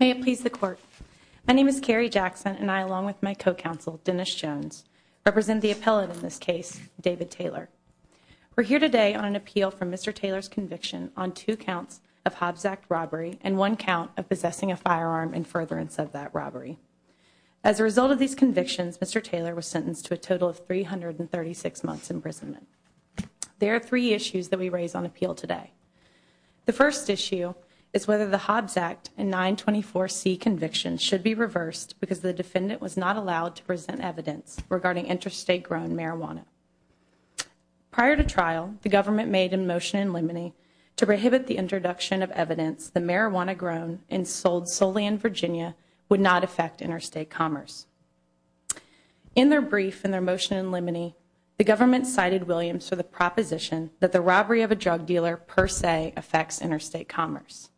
May it please the court. My name is Carrie Jackson, and I, along with my co-counsel, Dennis Jones, represent the appellate in this case, David Taylor. We're here today on an appeal for Mr. Taylor's conviction on two counts of Hobbs Act robbery and one count of possessing a firearm and furtherance of that robbery. As a result of these convictions, Mr. Taylor was sentenced to a total of 336 months imprisonment. There are three issues that we raise on appeal today. The first issue is whether the Hobbs Act and 924C convictions should be reversed because the defendant was not allowed to present evidence regarding interstate-grown marijuana. Prior to trial, the government made a motion in limine to prohibit the introduction of evidence that marijuana grown and sold solely in Virginia would not affect interstate commerce. In their brief, in their motion in limine, the government cited Williams for the proposition that the robbery of a drug dealer per se affects interstate commerce.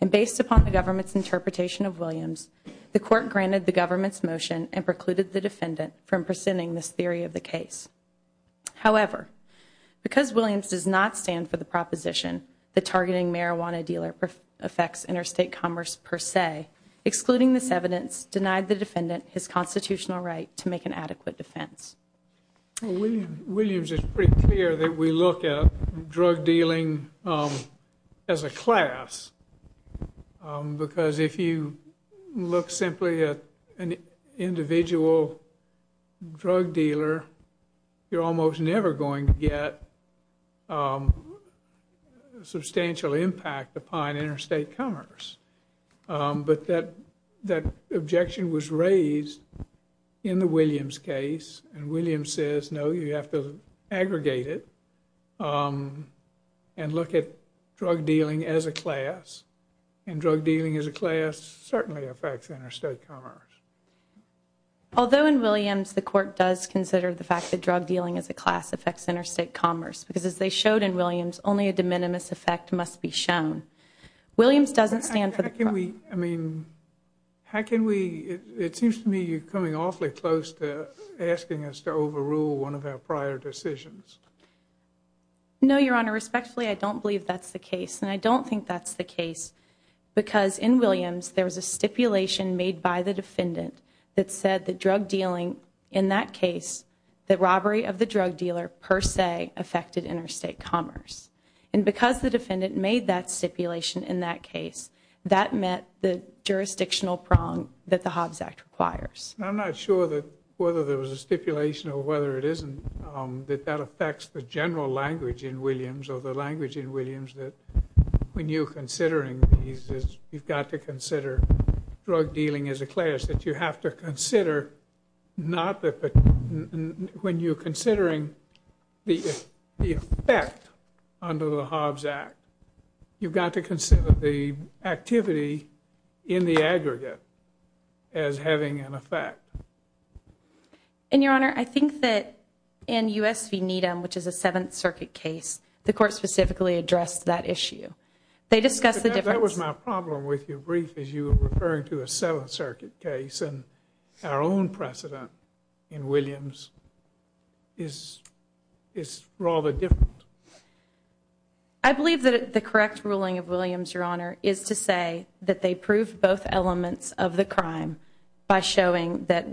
And based upon the government's interpretation of Williams, the court granted the government's motion and precluded the defendant from presenting this theory of the case. However, because Williams does not stand for the proposition that targeting marijuana dealer affects interstate commerce per se, excluding this evidence denied the defendant his constitutional right to make an adequate defense. Williams is pretty clear that we look at drug dealing as a class. Because if you look simply at an individual drug dealer, you're almost never going to get substantial impact upon interstate commerce. But that objection was raised in the Williams case. And Williams says, no, you have to aggregate it and look at drug dealing as a class. And drug dealing as a class certainly affects interstate commerce. Although in Williams, the court does consider the fact that drug dealing as a class affects interstate commerce. Because as they showed in Williams, only a de minimis effect must be shown. Williams doesn't stand for the proposition. How can we, I mean, how can we, it seems to me you're coming awfully close to asking us to overrule one of our prior decisions. No, your honor. Respectfully, I don't believe that's the case. And I don't think that's the case. Because in Williams, there was a stipulation made by the defendant that said that drug dealing in that case, that robbery of the drug dealer per se affected interstate commerce. And because the defendant made that stipulation in that case, that met the jurisdictional prong that the Hobbs Act requires. I'm not sure that whether there was a stipulation or whether it isn't, that that affects the general language in Williams or the language in Williams. That when you're considering these, you've got to consider drug dealing as a class. That you have to consider not the, when you're considering the effect under the Hobbs Act, you've got to consider the activity in the aggregate as having an effect. And your honor, I think that in U.S. v. Needham, which is a Seventh Circuit case, the court specifically addressed that issue. They discussed the difference. That was my problem with your brief, is you were referring to a Seventh Circuit case and our own precedent in Williams is rather different. I believe that the correct ruling of Williams, your honor, is to say that they proved both elements of the crime by showing that,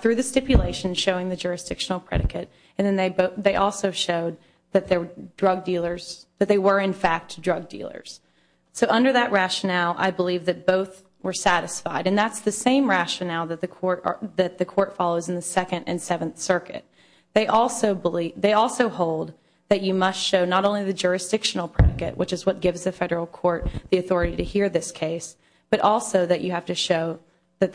through the stipulation, showing the jurisdictional predicate. And then they also showed that they were, in fact, drug dealers. So under that rationale, I believe that both were satisfied. And that's the same rationale that the court follows in the Second and Seventh Circuit. They also hold that you must show not only the jurisdictional predicate, which is what gives the federal court the authority to hear this case, but also that you have to show that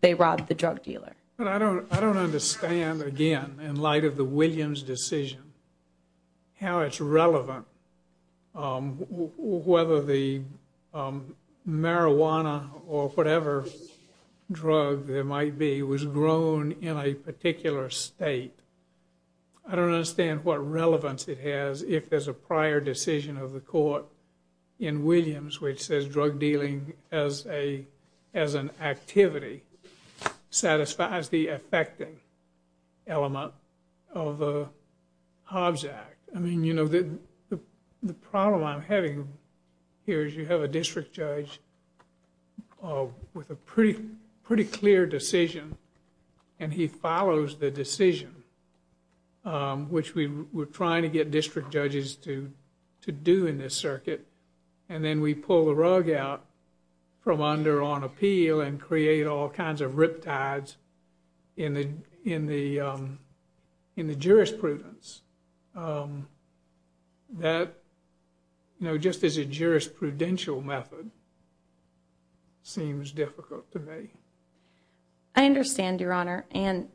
they robbed the drug dealer. But I don't understand, again, in light of the Williams decision, how it's relevant, whether the marijuana or whatever drug there might be was grown in a particular state. I don't understand what relevance it has if there's a prior decision of the court in Williams which says drug dealing as an activity satisfies the effecting element of the Hobbs Act. I mean, you know, the problem I'm having here is you have a district judge with a pretty clear decision, and he follows the decision, which we're trying to get district judges to do in this circuit. And then we pull the rug out from under on appeal and create all kinds of riptides in the jurisprudence. That, you know, just as a jurisprudential method, seems difficult to me. I understand, Your Honor, and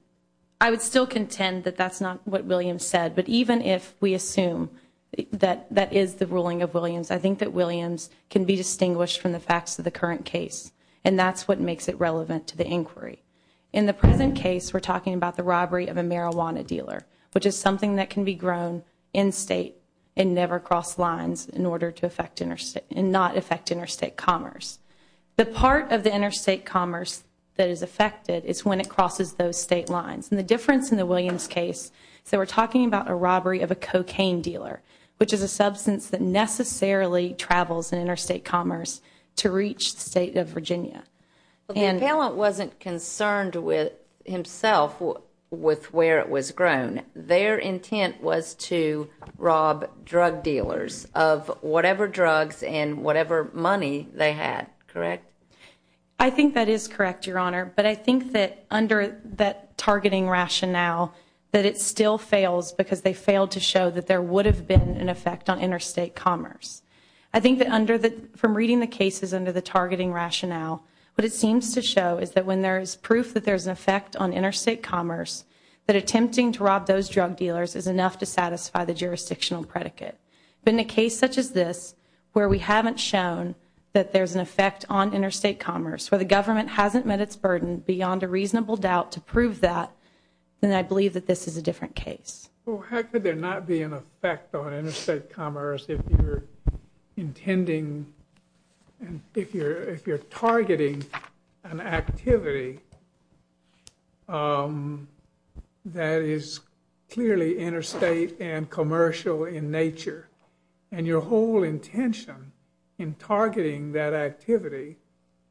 I would still contend that that's not what Williams said. But even if we assume that that is the ruling of Williams, I think that Williams can be distinguished from the facts of the current case. And that's what makes it relevant to the inquiry. In the present case, we're talking about the robbery of a marijuana dealer, which is something that can be grown in-state and never cross lines in order to not affect interstate commerce. The part of the interstate commerce that is affected is when it crosses those state lines. And the difference in the Williams case is that we're talking about a robbery of a cocaine dealer, which is a substance that necessarily travels in interstate commerce to reach the state of Virginia. The appellant wasn't concerned with himself with where it was grown. Their intent was to rob drug dealers of whatever drugs and whatever money they had, correct? I think that is correct, Your Honor. But I think that under that targeting rationale, that it still fails because they failed to show that there would have been an effect on interstate commerce. I think that from reading the cases under the targeting rationale, what it seems to show is that when there is proof that there's an effect on interstate commerce, that attempting to rob those drug dealers is enough to satisfy the jurisdictional predicate. But in a case such as this, where we haven't shown that there's an effect on interstate commerce, where the government hasn't met its burden beyond a reasonable doubt to prove that, then I believe that this is a different case. Well, how could there not be an effect on interstate commerce if you're targeting an activity that is clearly interstate and commercial in nature? And your whole intention in targeting that activity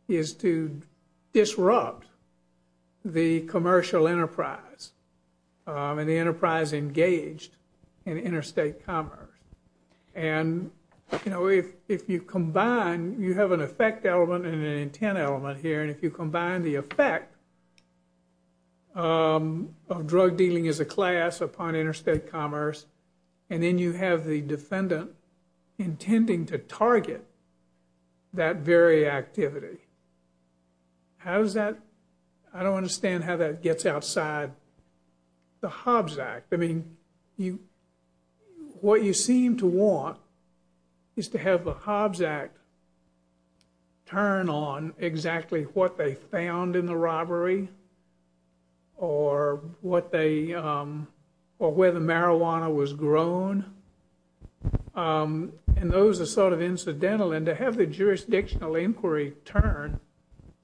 is to disrupt the commercial enterprise and the enterprise engaged in interstate commerce. And, you know, if you combine, you have an effect element and an intent element here, and if you combine the effect of drug dealing as a class upon interstate commerce, and then you have the defendant intending to target that very activity, how does that, I don't understand how that gets outside the Hobbs Act. I mean, what you seem to want is to have the Hobbs Act turn on exactly what they found in the robbery or what they, or where the marijuana was grown. And those are sort of incidental, and to have the jurisdictional inquiry turn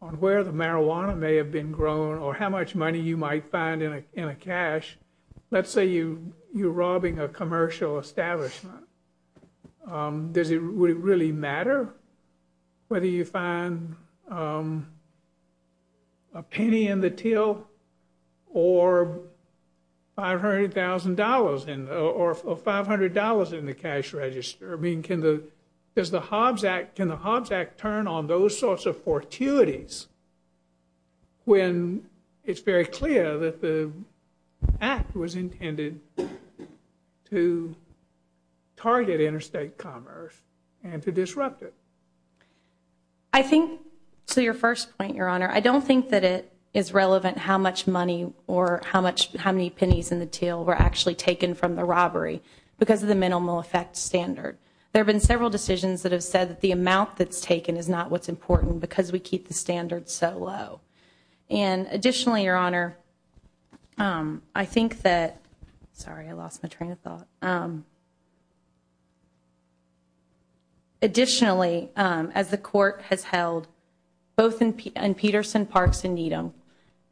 on where the marijuana may have been grown or how much money you might find in a cash, let's say you're robbing a commercial establishment. Does it really matter whether you find a penny in the till or $500,000 or $500 in the cash register? I mean, can the Hobbs Act turn on those sorts of fortuities when it's very clear that the act was intended to target interstate commerce and to disrupt it? I think, to your first point, Your Honor, I don't think that it is relevant how much money or how many pennies in the till were actually taken from the robbery because of the minimal effect standard. There have been several decisions that have said that the amount that's taken is not what's important because we keep the standard so low. And additionally, Your Honor, I think that, sorry, I lost my train of thought. Additionally, as the Court has held both in Peterson, Parks, and Needham,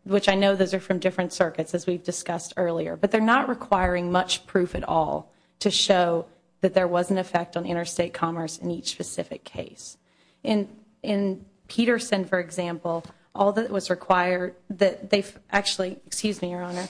which I know those are from different circuits as we've discussed earlier, but they're not requiring much proof at all to show that there was an effect on interstate commerce in each specific case. In Peterson, for example, all that was required, excuse me, Your Honor,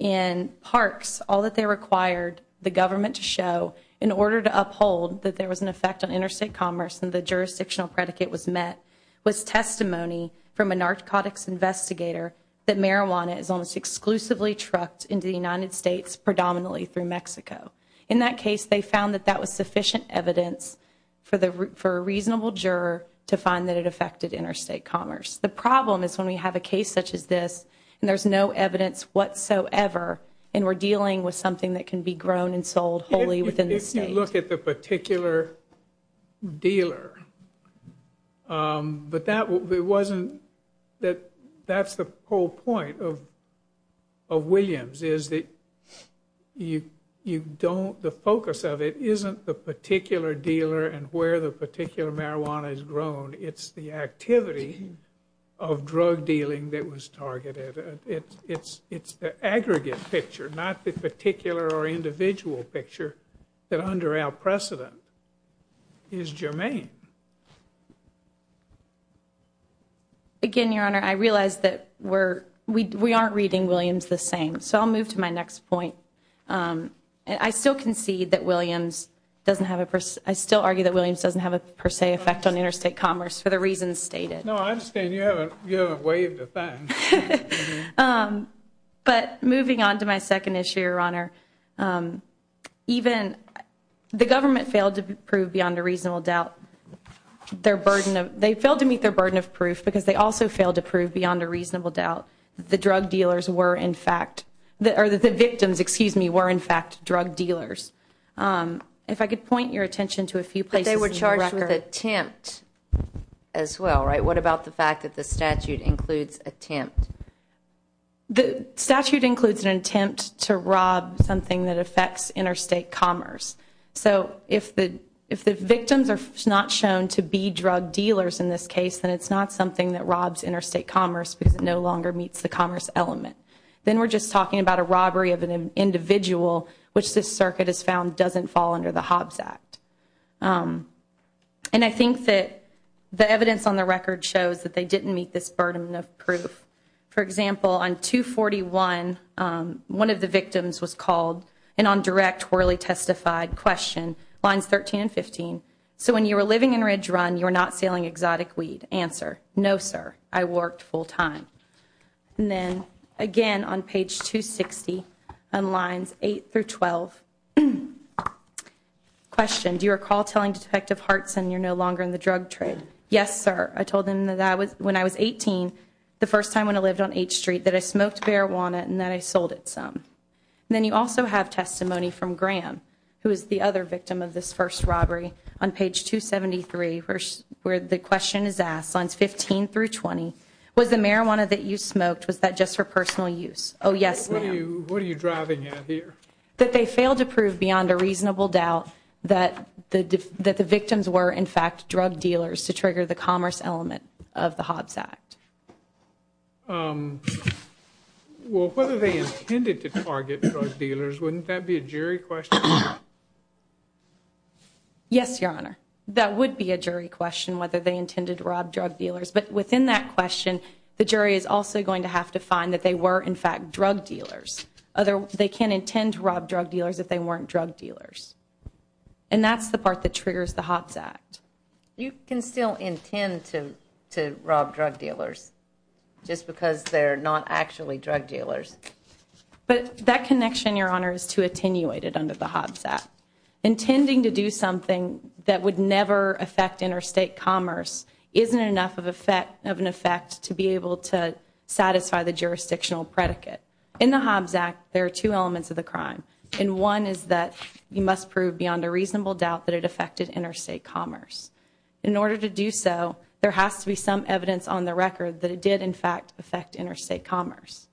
in Parks, all that they required the government to show in order to uphold that there was an effect on interstate commerce and the jurisdictional predicate was met was testimony from a narcotics investigator that marijuana is almost exclusively trucked into the United States, predominantly through Mexico. In that case, they found that that was sufficient evidence for a reasonable juror to find that it affected interstate commerce. The problem is when we have a case such as this and there's no evidence whatsoever and we're dealing with something that can be grown and sold wholly within the state. When we look at the particular dealer, but that wasn't, that's the whole point of Williams is that you don't, the focus of it isn't the particular dealer and where the particular marijuana is grown, it's the activity of drug dealing that was targeted. It's the aggregate picture, not the particular or individual picture that under our precedent is germane. Again, Your Honor, I realize that we aren't reading Williams the same, so I'll move to my next point. I still concede that Williams doesn't have a, I still argue that Williams doesn't have a per se effect on interstate commerce for the reasons stated. No, I understand you haven't waived a thing. But moving on to my second issue, Your Honor, even the government failed to prove beyond a reasonable doubt their burden of, they failed to meet their burden of proof because they also failed to prove beyond a reasonable doubt that the drug dealers were in fact, or that the victims, excuse me, were in fact drug dealers. If I could point your attention to a few places in the record. You touched with attempt as well, right? What about the fact that the statute includes attempt? The statute includes an attempt to rob something that affects interstate commerce. So if the victims are not shown to be drug dealers in this case, then it's not something that robs interstate commerce because it no longer meets the commerce element. Then we're just talking about a robbery of an individual which this circuit has found doesn't fall under the Hobbs Act. And I think that the evidence on the record shows that they didn't meet this burden of proof. For example, on 241, one of the victims was called and on direct, poorly testified question, lines 13 and 15. So when you were living in Ridge Run, you were not selling exotic weed. Answer, no sir, I worked full time. And then again on page 260, on lines 8 through 12, question. Do you recall telling Detective Hartson you're no longer in the drug trade? Yes, sir. I told him that when I was 18, the first time when I lived on H Street, that I smoked marijuana and that I sold it some. And then you also have testimony from Graham, who is the other victim of this first robbery on page 273, where the question is asked, lines 15 through 20. Was the marijuana that you smoked, was that just for personal use? Oh, yes, ma'am. What are you driving at here? That they failed to prove beyond a reasonable doubt that the victims were in fact drug dealers to trigger the commerce element of the Hobbs Act. Well, whether they intended to target drug dealers, wouldn't that be a jury question? Yes, Your Honor. That would be a jury question, whether they intended to rob drug dealers. But within that question, the jury is also going to have to find that they were in fact drug dealers. They can't intend to rob drug dealers if they weren't drug dealers. And that's the part that triggers the Hobbs Act. You can still intend to rob drug dealers just because they're not actually drug dealers. But that connection, Your Honor, is too attenuated under the Hobbs Act. Intending to do something that would never affect interstate commerce isn't enough of an effect to be able to satisfy the jurisdictional predicate. In the Hobbs Act, there are two elements of the crime. And one is that you must prove beyond a reasonable doubt that it affected interstate commerce. In order to do so, there has to be some evidence on the record that it did in fact affect interstate commerce.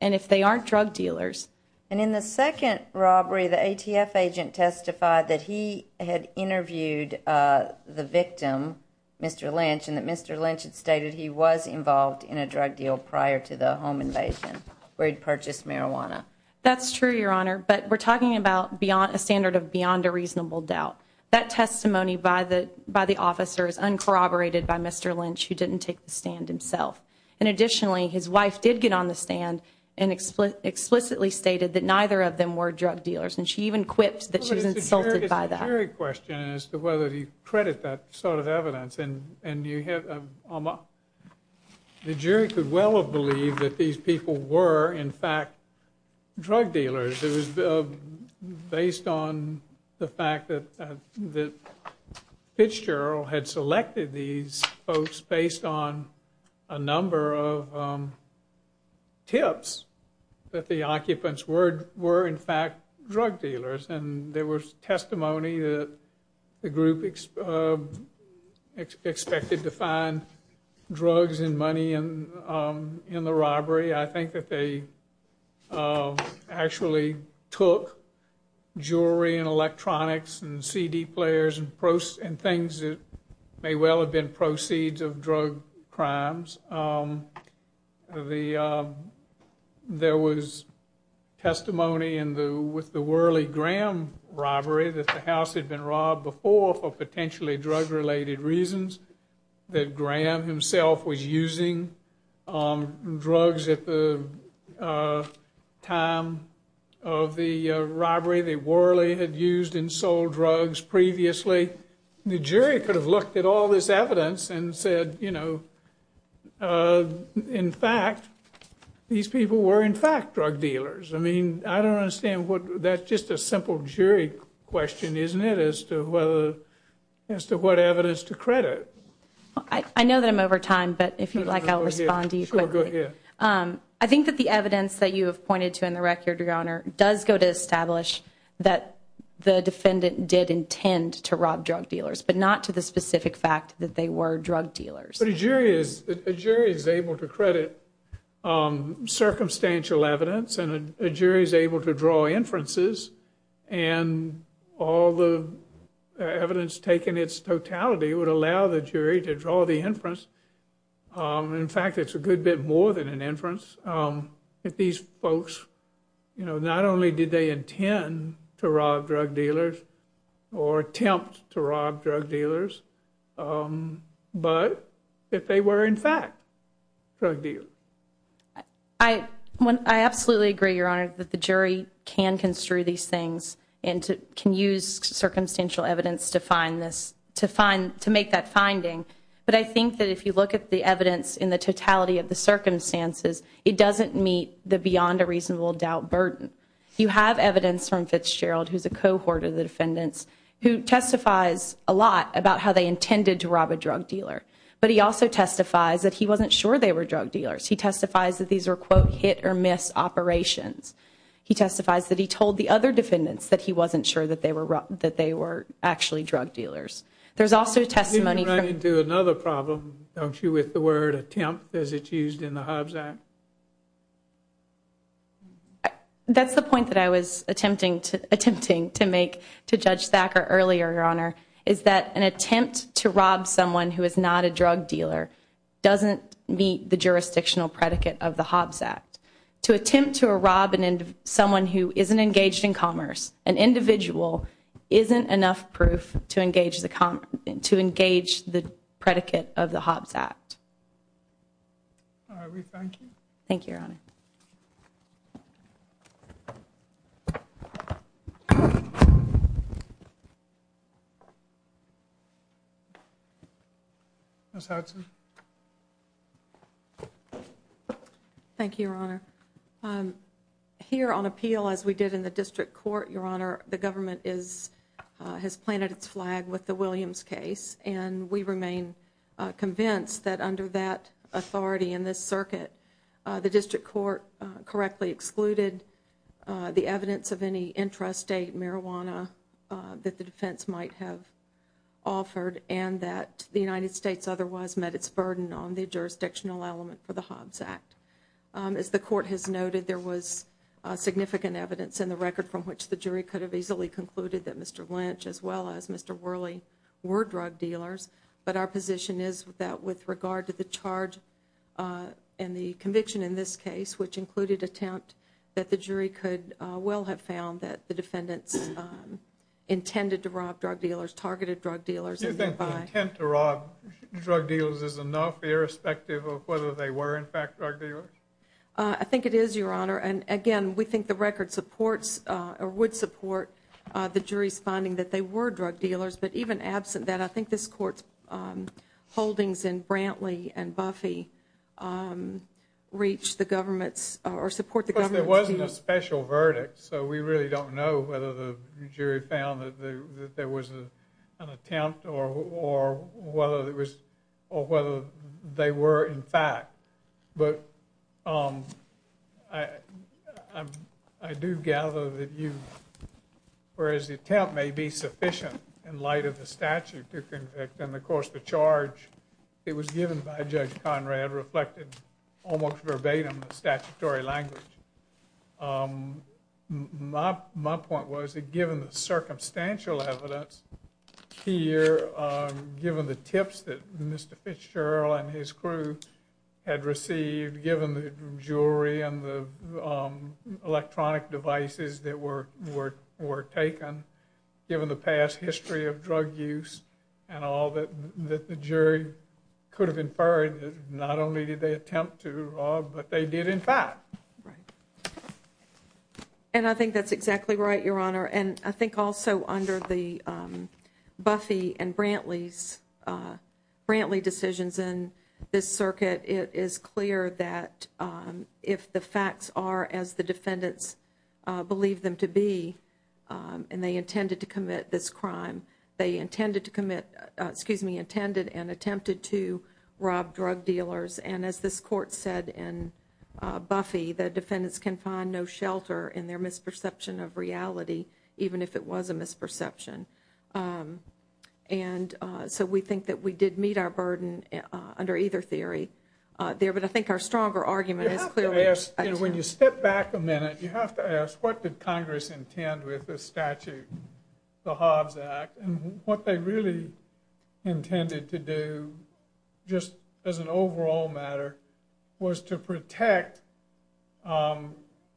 And if they aren't drug dealers. And in the second robbery, the ATF agent testified that he had interviewed the victim, Mr. Lynch, and that Mr. Lynch had stated he was involved in a drug deal prior to the home invasion where he purchased marijuana. That's true, Your Honor. But we're talking about a standard of beyond a reasonable doubt. That testimony by the officer is uncorroborated by Mr. Lynch, who didn't take the stand himself. And additionally, his wife did get on the stand and explicitly stated that neither of them were drug dealers. And she even quipped that she was insulted by that. It's a jury question as to whether you credit that sort of evidence. And you have, Alma, the jury could well have believed that these people were, in fact, drug dealers. It was based on the fact that Fitzgerald had selected these folks based on a number of tips that the occupants were, in fact, drug dealers. And there was testimony that the group expected to find drugs and money in the robbery. I think that they actually took jewelry and electronics and CD players and things that may well have been proceeds of drug crimes. There was testimony with the Worley Graham robbery that the house had been robbed before for potentially drug-related reasons, that Graham himself was using drugs at the time of the robbery that Worley had used and sold drugs previously. The jury could have looked at all this evidence and said, you know, in fact, these people were, in fact, drug dealers. I mean, I don't understand. That's just a simple jury question, isn't it, as to what evidence to credit? I know that I'm over time, but if you'd like, I'll respond to you quickly. Sure, go ahead. I think that the evidence that you have pointed to in the record, Your Honor, does go to establish that the defendant did intend to rob drug dealers, but not to the specific fact that they were drug dealers. But a jury is able to credit circumstantial evidence, and a jury is able to draw inferences, and all the evidence taken in its totality would allow the jury to draw the inference. In fact, it's a good bit more than an inference. If these folks, you know, not only did they intend to rob drug dealers or attempt to rob drug dealers, but that they were, in fact, drug dealers. I absolutely agree, Your Honor, that the jury can construe these things and can use circumstantial evidence to find this, to make that finding. But I think that if you look at the evidence in the totality of the circumstances, it doesn't meet the beyond a reasonable doubt burden. You have evidence from Fitzgerald, who's a cohort of the defendants, who testifies a lot about how they intended to rob a drug dealer. But he also testifies that he wasn't sure they were drug dealers. He testifies that these were, quote, hit or miss operations. He testifies that he told the other defendants that he wasn't sure that they were actually drug dealers. There's also testimony from- You run into another problem, don't you, with the word attempt, as it's used in the Hobbs Act? That's the point that I was attempting to make to Judge Thacker earlier, Your Honor, is that an attempt to rob someone who is not a drug dealer doesn't meet the jurisdictional predicate of the Hobbs Act. To attempt to rob someone who isn't engaged in commerce, an individual, isn't enough proof to engage the predicate of the Hobbs Act. All right, we thank you. Thank you, Your Honor. Ms. Hudson. Thank you, Your Honor. Here on appeal, as we did in the district court, Your Honor, the government has planted its flag with the Williams case, and we remain convinced that under that authority in this circuit, the district court correctly excluded the evidence of any intrastate marijuana that the defense might have offered and that the United States otherwise met its burden on the jurisdictional element for the Hobbs Act. As the court has noted, there was significant evidence in the record from which the jury could have easily concluded that Mr. Lynch as well as Mr. Worley were drug dealers, but our position is that with regard to the charge and the conviction in this case, which included attempt, that the jury could well have found that the defendants intended to rob drug dealers, targeted drug dealers- Do you think the intent to rob drug dealers is enough, irrespective of whether they were in fact drug dealers? I think it is, Your Honor, and again, we think the record supports or would support the jury's finding that they were drug dealers, but even absent that, I think this court's holdings in Brantley and Buffy reach the government's or support the government's- So we really don't know whether the jury found that there was an attempt or whether they were in fact, but I do gather that you- whereas the attempt may be sufficient in light of the statute to convict, and of course the charge that was given by Judge Conrad reflected almost verbatim the statutory language. My point was that given the circumstantial evidence here, given the tips that Mr. Fitzgerald and his crew had received, given the jury and the electronic devices that were taken, given the past history of drug use and all that the jury could have inferred, not only did they attempt to rob, but they did in fact. And I think that's exactly right, Your Honor, and I think also under the Buffy and Brantley decisions in this circuit, it is clear that if the facts are as the defendants believe them to be, and they intended to commit this crime, they intended to commit- excuse me, intended and attempted to rob drug dealers. And as this court said in Buffy, the defendants can find no shelter in their misperception of reality, even if it was a misperception. And so we think that we did meet our burden under either theory there, but I think our stronger argument is clearly- You have to ask, what did Congress intend with this statute, the Hobbs Act? And what they really intended to do, just as an overall matter, was to protect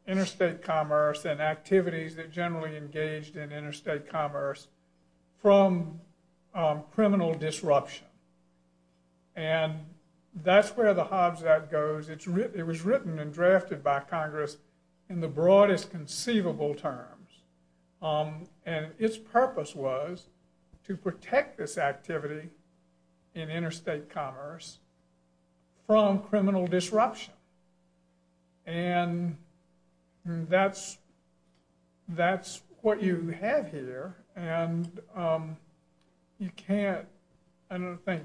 interstate commerce and activities that generally engaged in interstate commerce from criminal disruption. And that's where the Hobbs Act goes. It was written and drafted by Congress in the broadest conceivable terms. And its purpose was to protect this activity in interstate commerce from criminal disruption. And that's what you have here. And you can't, I don't think,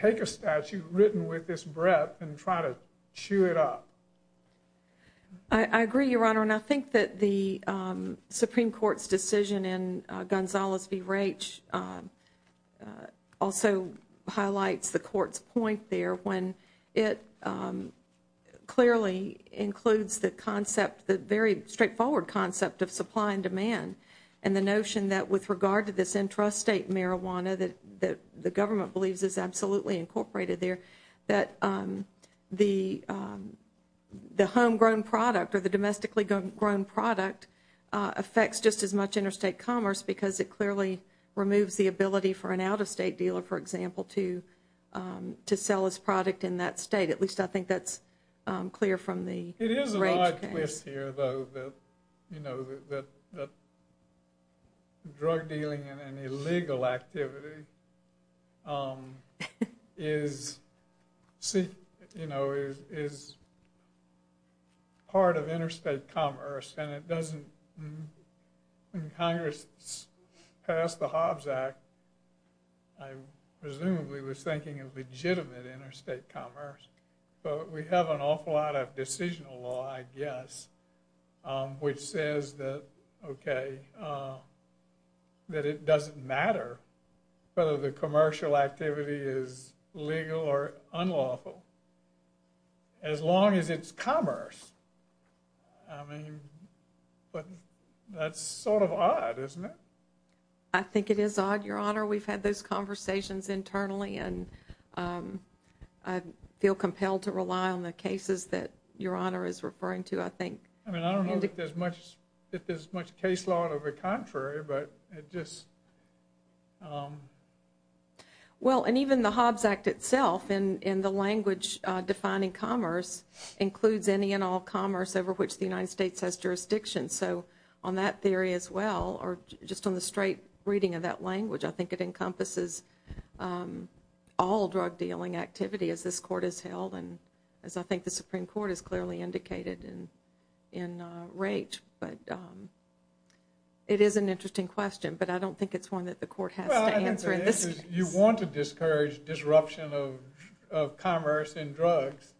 take a statute written with this breadth and try to chew it up. I agree, Your Honor, and I think that the Supreme Court's decision in Gonzales v. Raich also highlights the court's point there when it clearly includes the concept, the very straightforward concept of supply and demand and the notion that with regard to this intrastate marijuana that the government believes is absolutely incorporated there, that the homegrown product or the domestically grown product affects just as much interstate commerce because it clearly removes the ability for an out-of-state dealer, for example, to sell his product in that state. At least I think that's clear from the Raich case. It is an odd twist here, though, that drug dealing and illegal activity is part of interstate commerce and it doesn't, when Congress passed the Hobbs Act, I presumably was thinking of legitimate interstate commerce. But we have an awful lot of decisional law, I guess, which says that, okay, that it doesn't matter whether the commercial activity is legal or unlawful as long as it's commerce. I mean, but that's sort of odd, isn't it? I think it is odd, Your Honor. We've had those conversations internally and I feel compelled to rely on the cases that Your Honor is referring to, I think. I mean, I don't know if there's much case law to the contrary, but it just... Well, and even the Hobbs Act itself, in the language defining commerce, includes any and all commerce over which the United States has jurisdiction. So on that theory as well, or just on the straight reading of that language, I think it encompasses all drug dealing activity as this Court has held and as I think the Supreme Court has clearly indicated in Raich. But it is an interesting question, but I don't think it's one that the Court has to answer. The answer is you want to discourage disruption of commerce in drugs.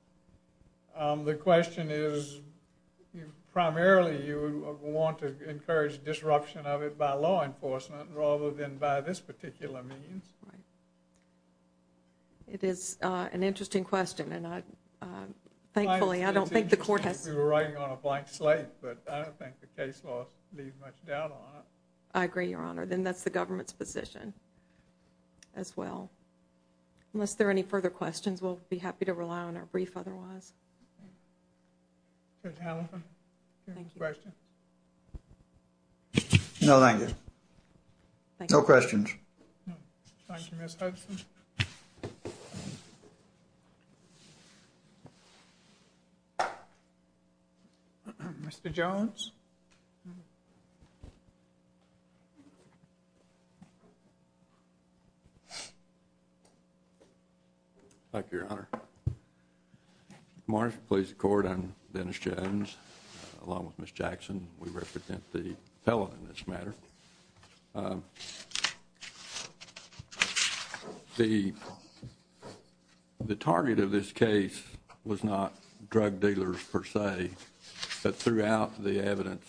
The question is primarily you want to encourage disruption of it by law enforcement rather than by this particular means. It is an interesting question, and thankfully I don't think the Court has... It seems like we were riding on a blank slate, but I don't think the case law leaves much doubt on it. I agree, Your Honor. Then that's the government's position as well. Unless there are any further questions, we'll be happy to rely on our brief otherwise. Ms. Halifax, any questions? No, thank you. No questions. Thank you, Ms. Hudson. Mr. Jones? Thank you, Your Honor. Marsha, please record. I'm Dennis Jones, along with Ms. Jackson. We represent the felon in this matter. The target of this case was not drug dealers per se, but throughout the evidence,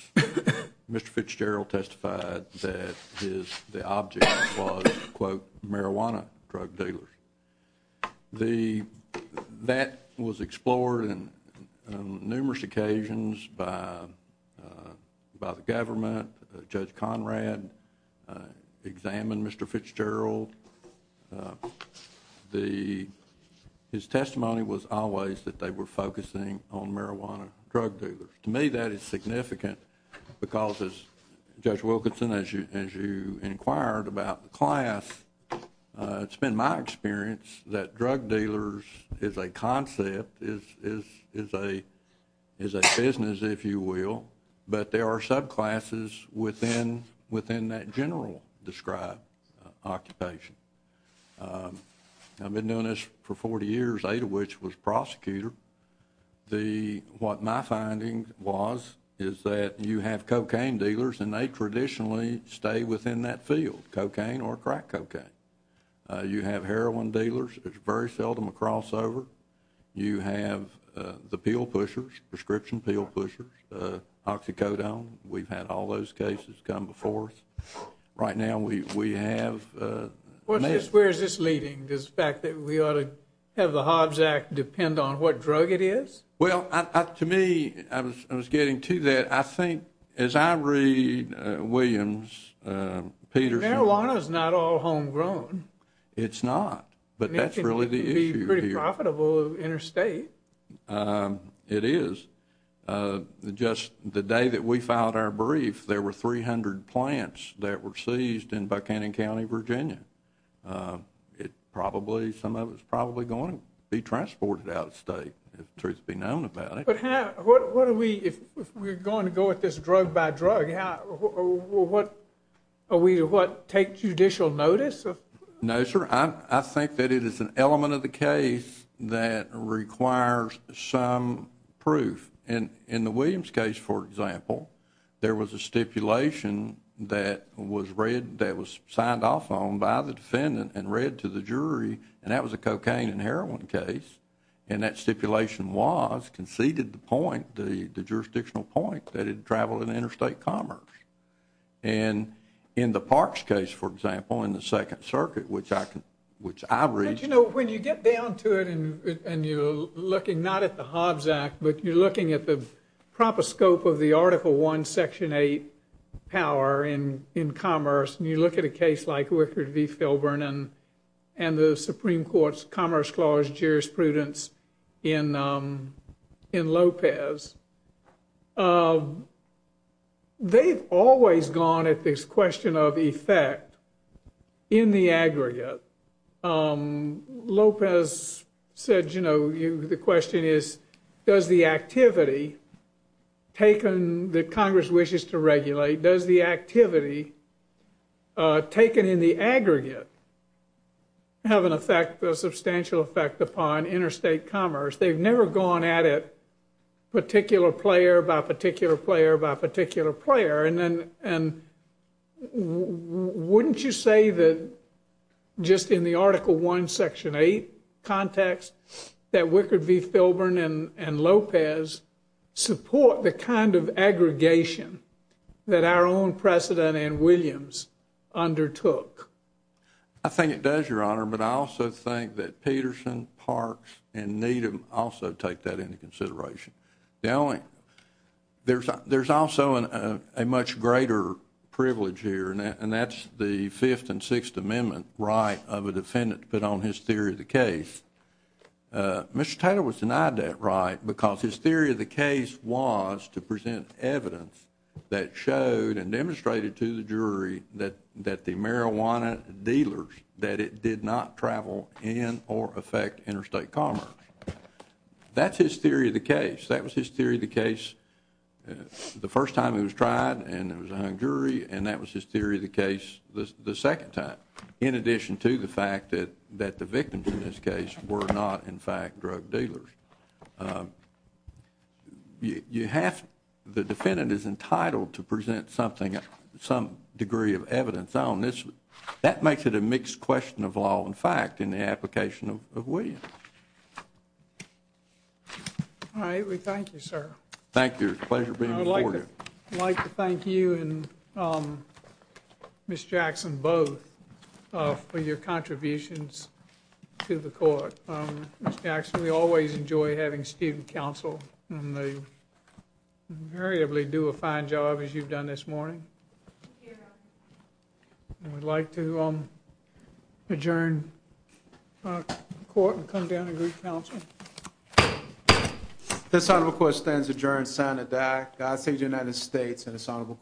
Mr. Fitzgerald testified that the object was, quote, marijuana drug dealers. That was explored on numerous occasions by the government. Judge Conrad examined Mr. Fitzgerald. His testimony was always that they were focusing on marijuana drug dealers. To me, that is significant because, as Judge Wilkinson, as you inquired about the class, it's been my experience that drug dealers is a concept, is a business, if you will, but there are subclasses within that general described occupation. I've been doing this for 40 years, eight of which was prosecutor. What my finding was is that you have cocaine dealers, and they traditionally stay within that field, cocaine or crack cocaine. You have heroin dealers. It's very seldom a crossover. You have the pill pushers, prescription pill pushers, oxycodone. We've had all those cases come before us. Right now, we have an issue. Where is this leading, this fact that we ought to have the Hobbs Act depend on what drug it is? Well, to me, I was getting to that. I think, as I read Williams, Peterson— Marijuana is not all homegrown. It's not, but that's really the issue here. It can be pretty profitable interstate. It is. Just the day that we filed our brief, there were 300 plants that were seized in Buckhannon County, Virginia. Some of it's probably going to be transported out of state, if the truth be known about it. But if we're going to go at this drug by drug, are we to take judicial notice? No, sir. I think that it is an element of the case that requires some proof. In the Williams case, for example, there was a stipulation that was signed off on by the defendant and read to the jury, and that was a cocaine and heroin case. And that stipulation was, conceded the point, the jurisdictional point, that it traveled in interstate commerce. And in the Parks case, for example, in the Second Circuit, which I read— But, you know, when you get down to it, and you're looking not at the Hobbs Act, but you're looking at the proper scope of the Article I, Section 8 power in commerce, and you look at a case like Wickard v. Filburn and the Supreme Court's Commerce Clause jurisprudence in Lopez, they've always gone at this question of effect in the aggregate. Lopez said, you know, the question is, does the activity taken that Congress wishes to regulate, does the activity taken in the aggregate have an effect, a substantial effect upon interstate commerce? They've never gone at it particular player by particular player by particular player. And wouldn't you say that just in the Article I, Section 8 context that Wickard v. Filburn and Lopez support the kind of aggregation that our own precedent and Williams undertook? I think it does, Your Honor, but I also think that Peterson, Parks, and Needham also take that into consideration. The only—there's also a much greater privilege here, and that's the Fifth and Sixth Amendment right of a defendant to put on his theory of the case. Mr. Taylor was denied that right because his theory of the case was to present evidence that showed and demonstrated to the jury that the marijuana dealers, that it did not travel in or affect interstate commerce. That's his theory of the case. That was his theory of the case the first time it was tried, and it was a hung jury, and that was his theory of the case the second time, in addition to the fact that the victims in this case were not, in fact, drug dealers. You have—the defendant is entitled to present something, some degree of evidence on this. That makes it a mixed question of law and fact in the application of Williams. All right. We thank you, sir. Thank you. It's a pleasure being before you. I'd like to thank you and Ms. Jackson both for your contributions to the court. Ms. Jackson, we always enjoy having student counsel, and they invariably do a fine job, as you've done this morning. Thank you, Your Honor. We'd like to adjourn the court and come down to group counsel. This honorable court stands adjourned, signed, and died. God save the United States and this honorable court.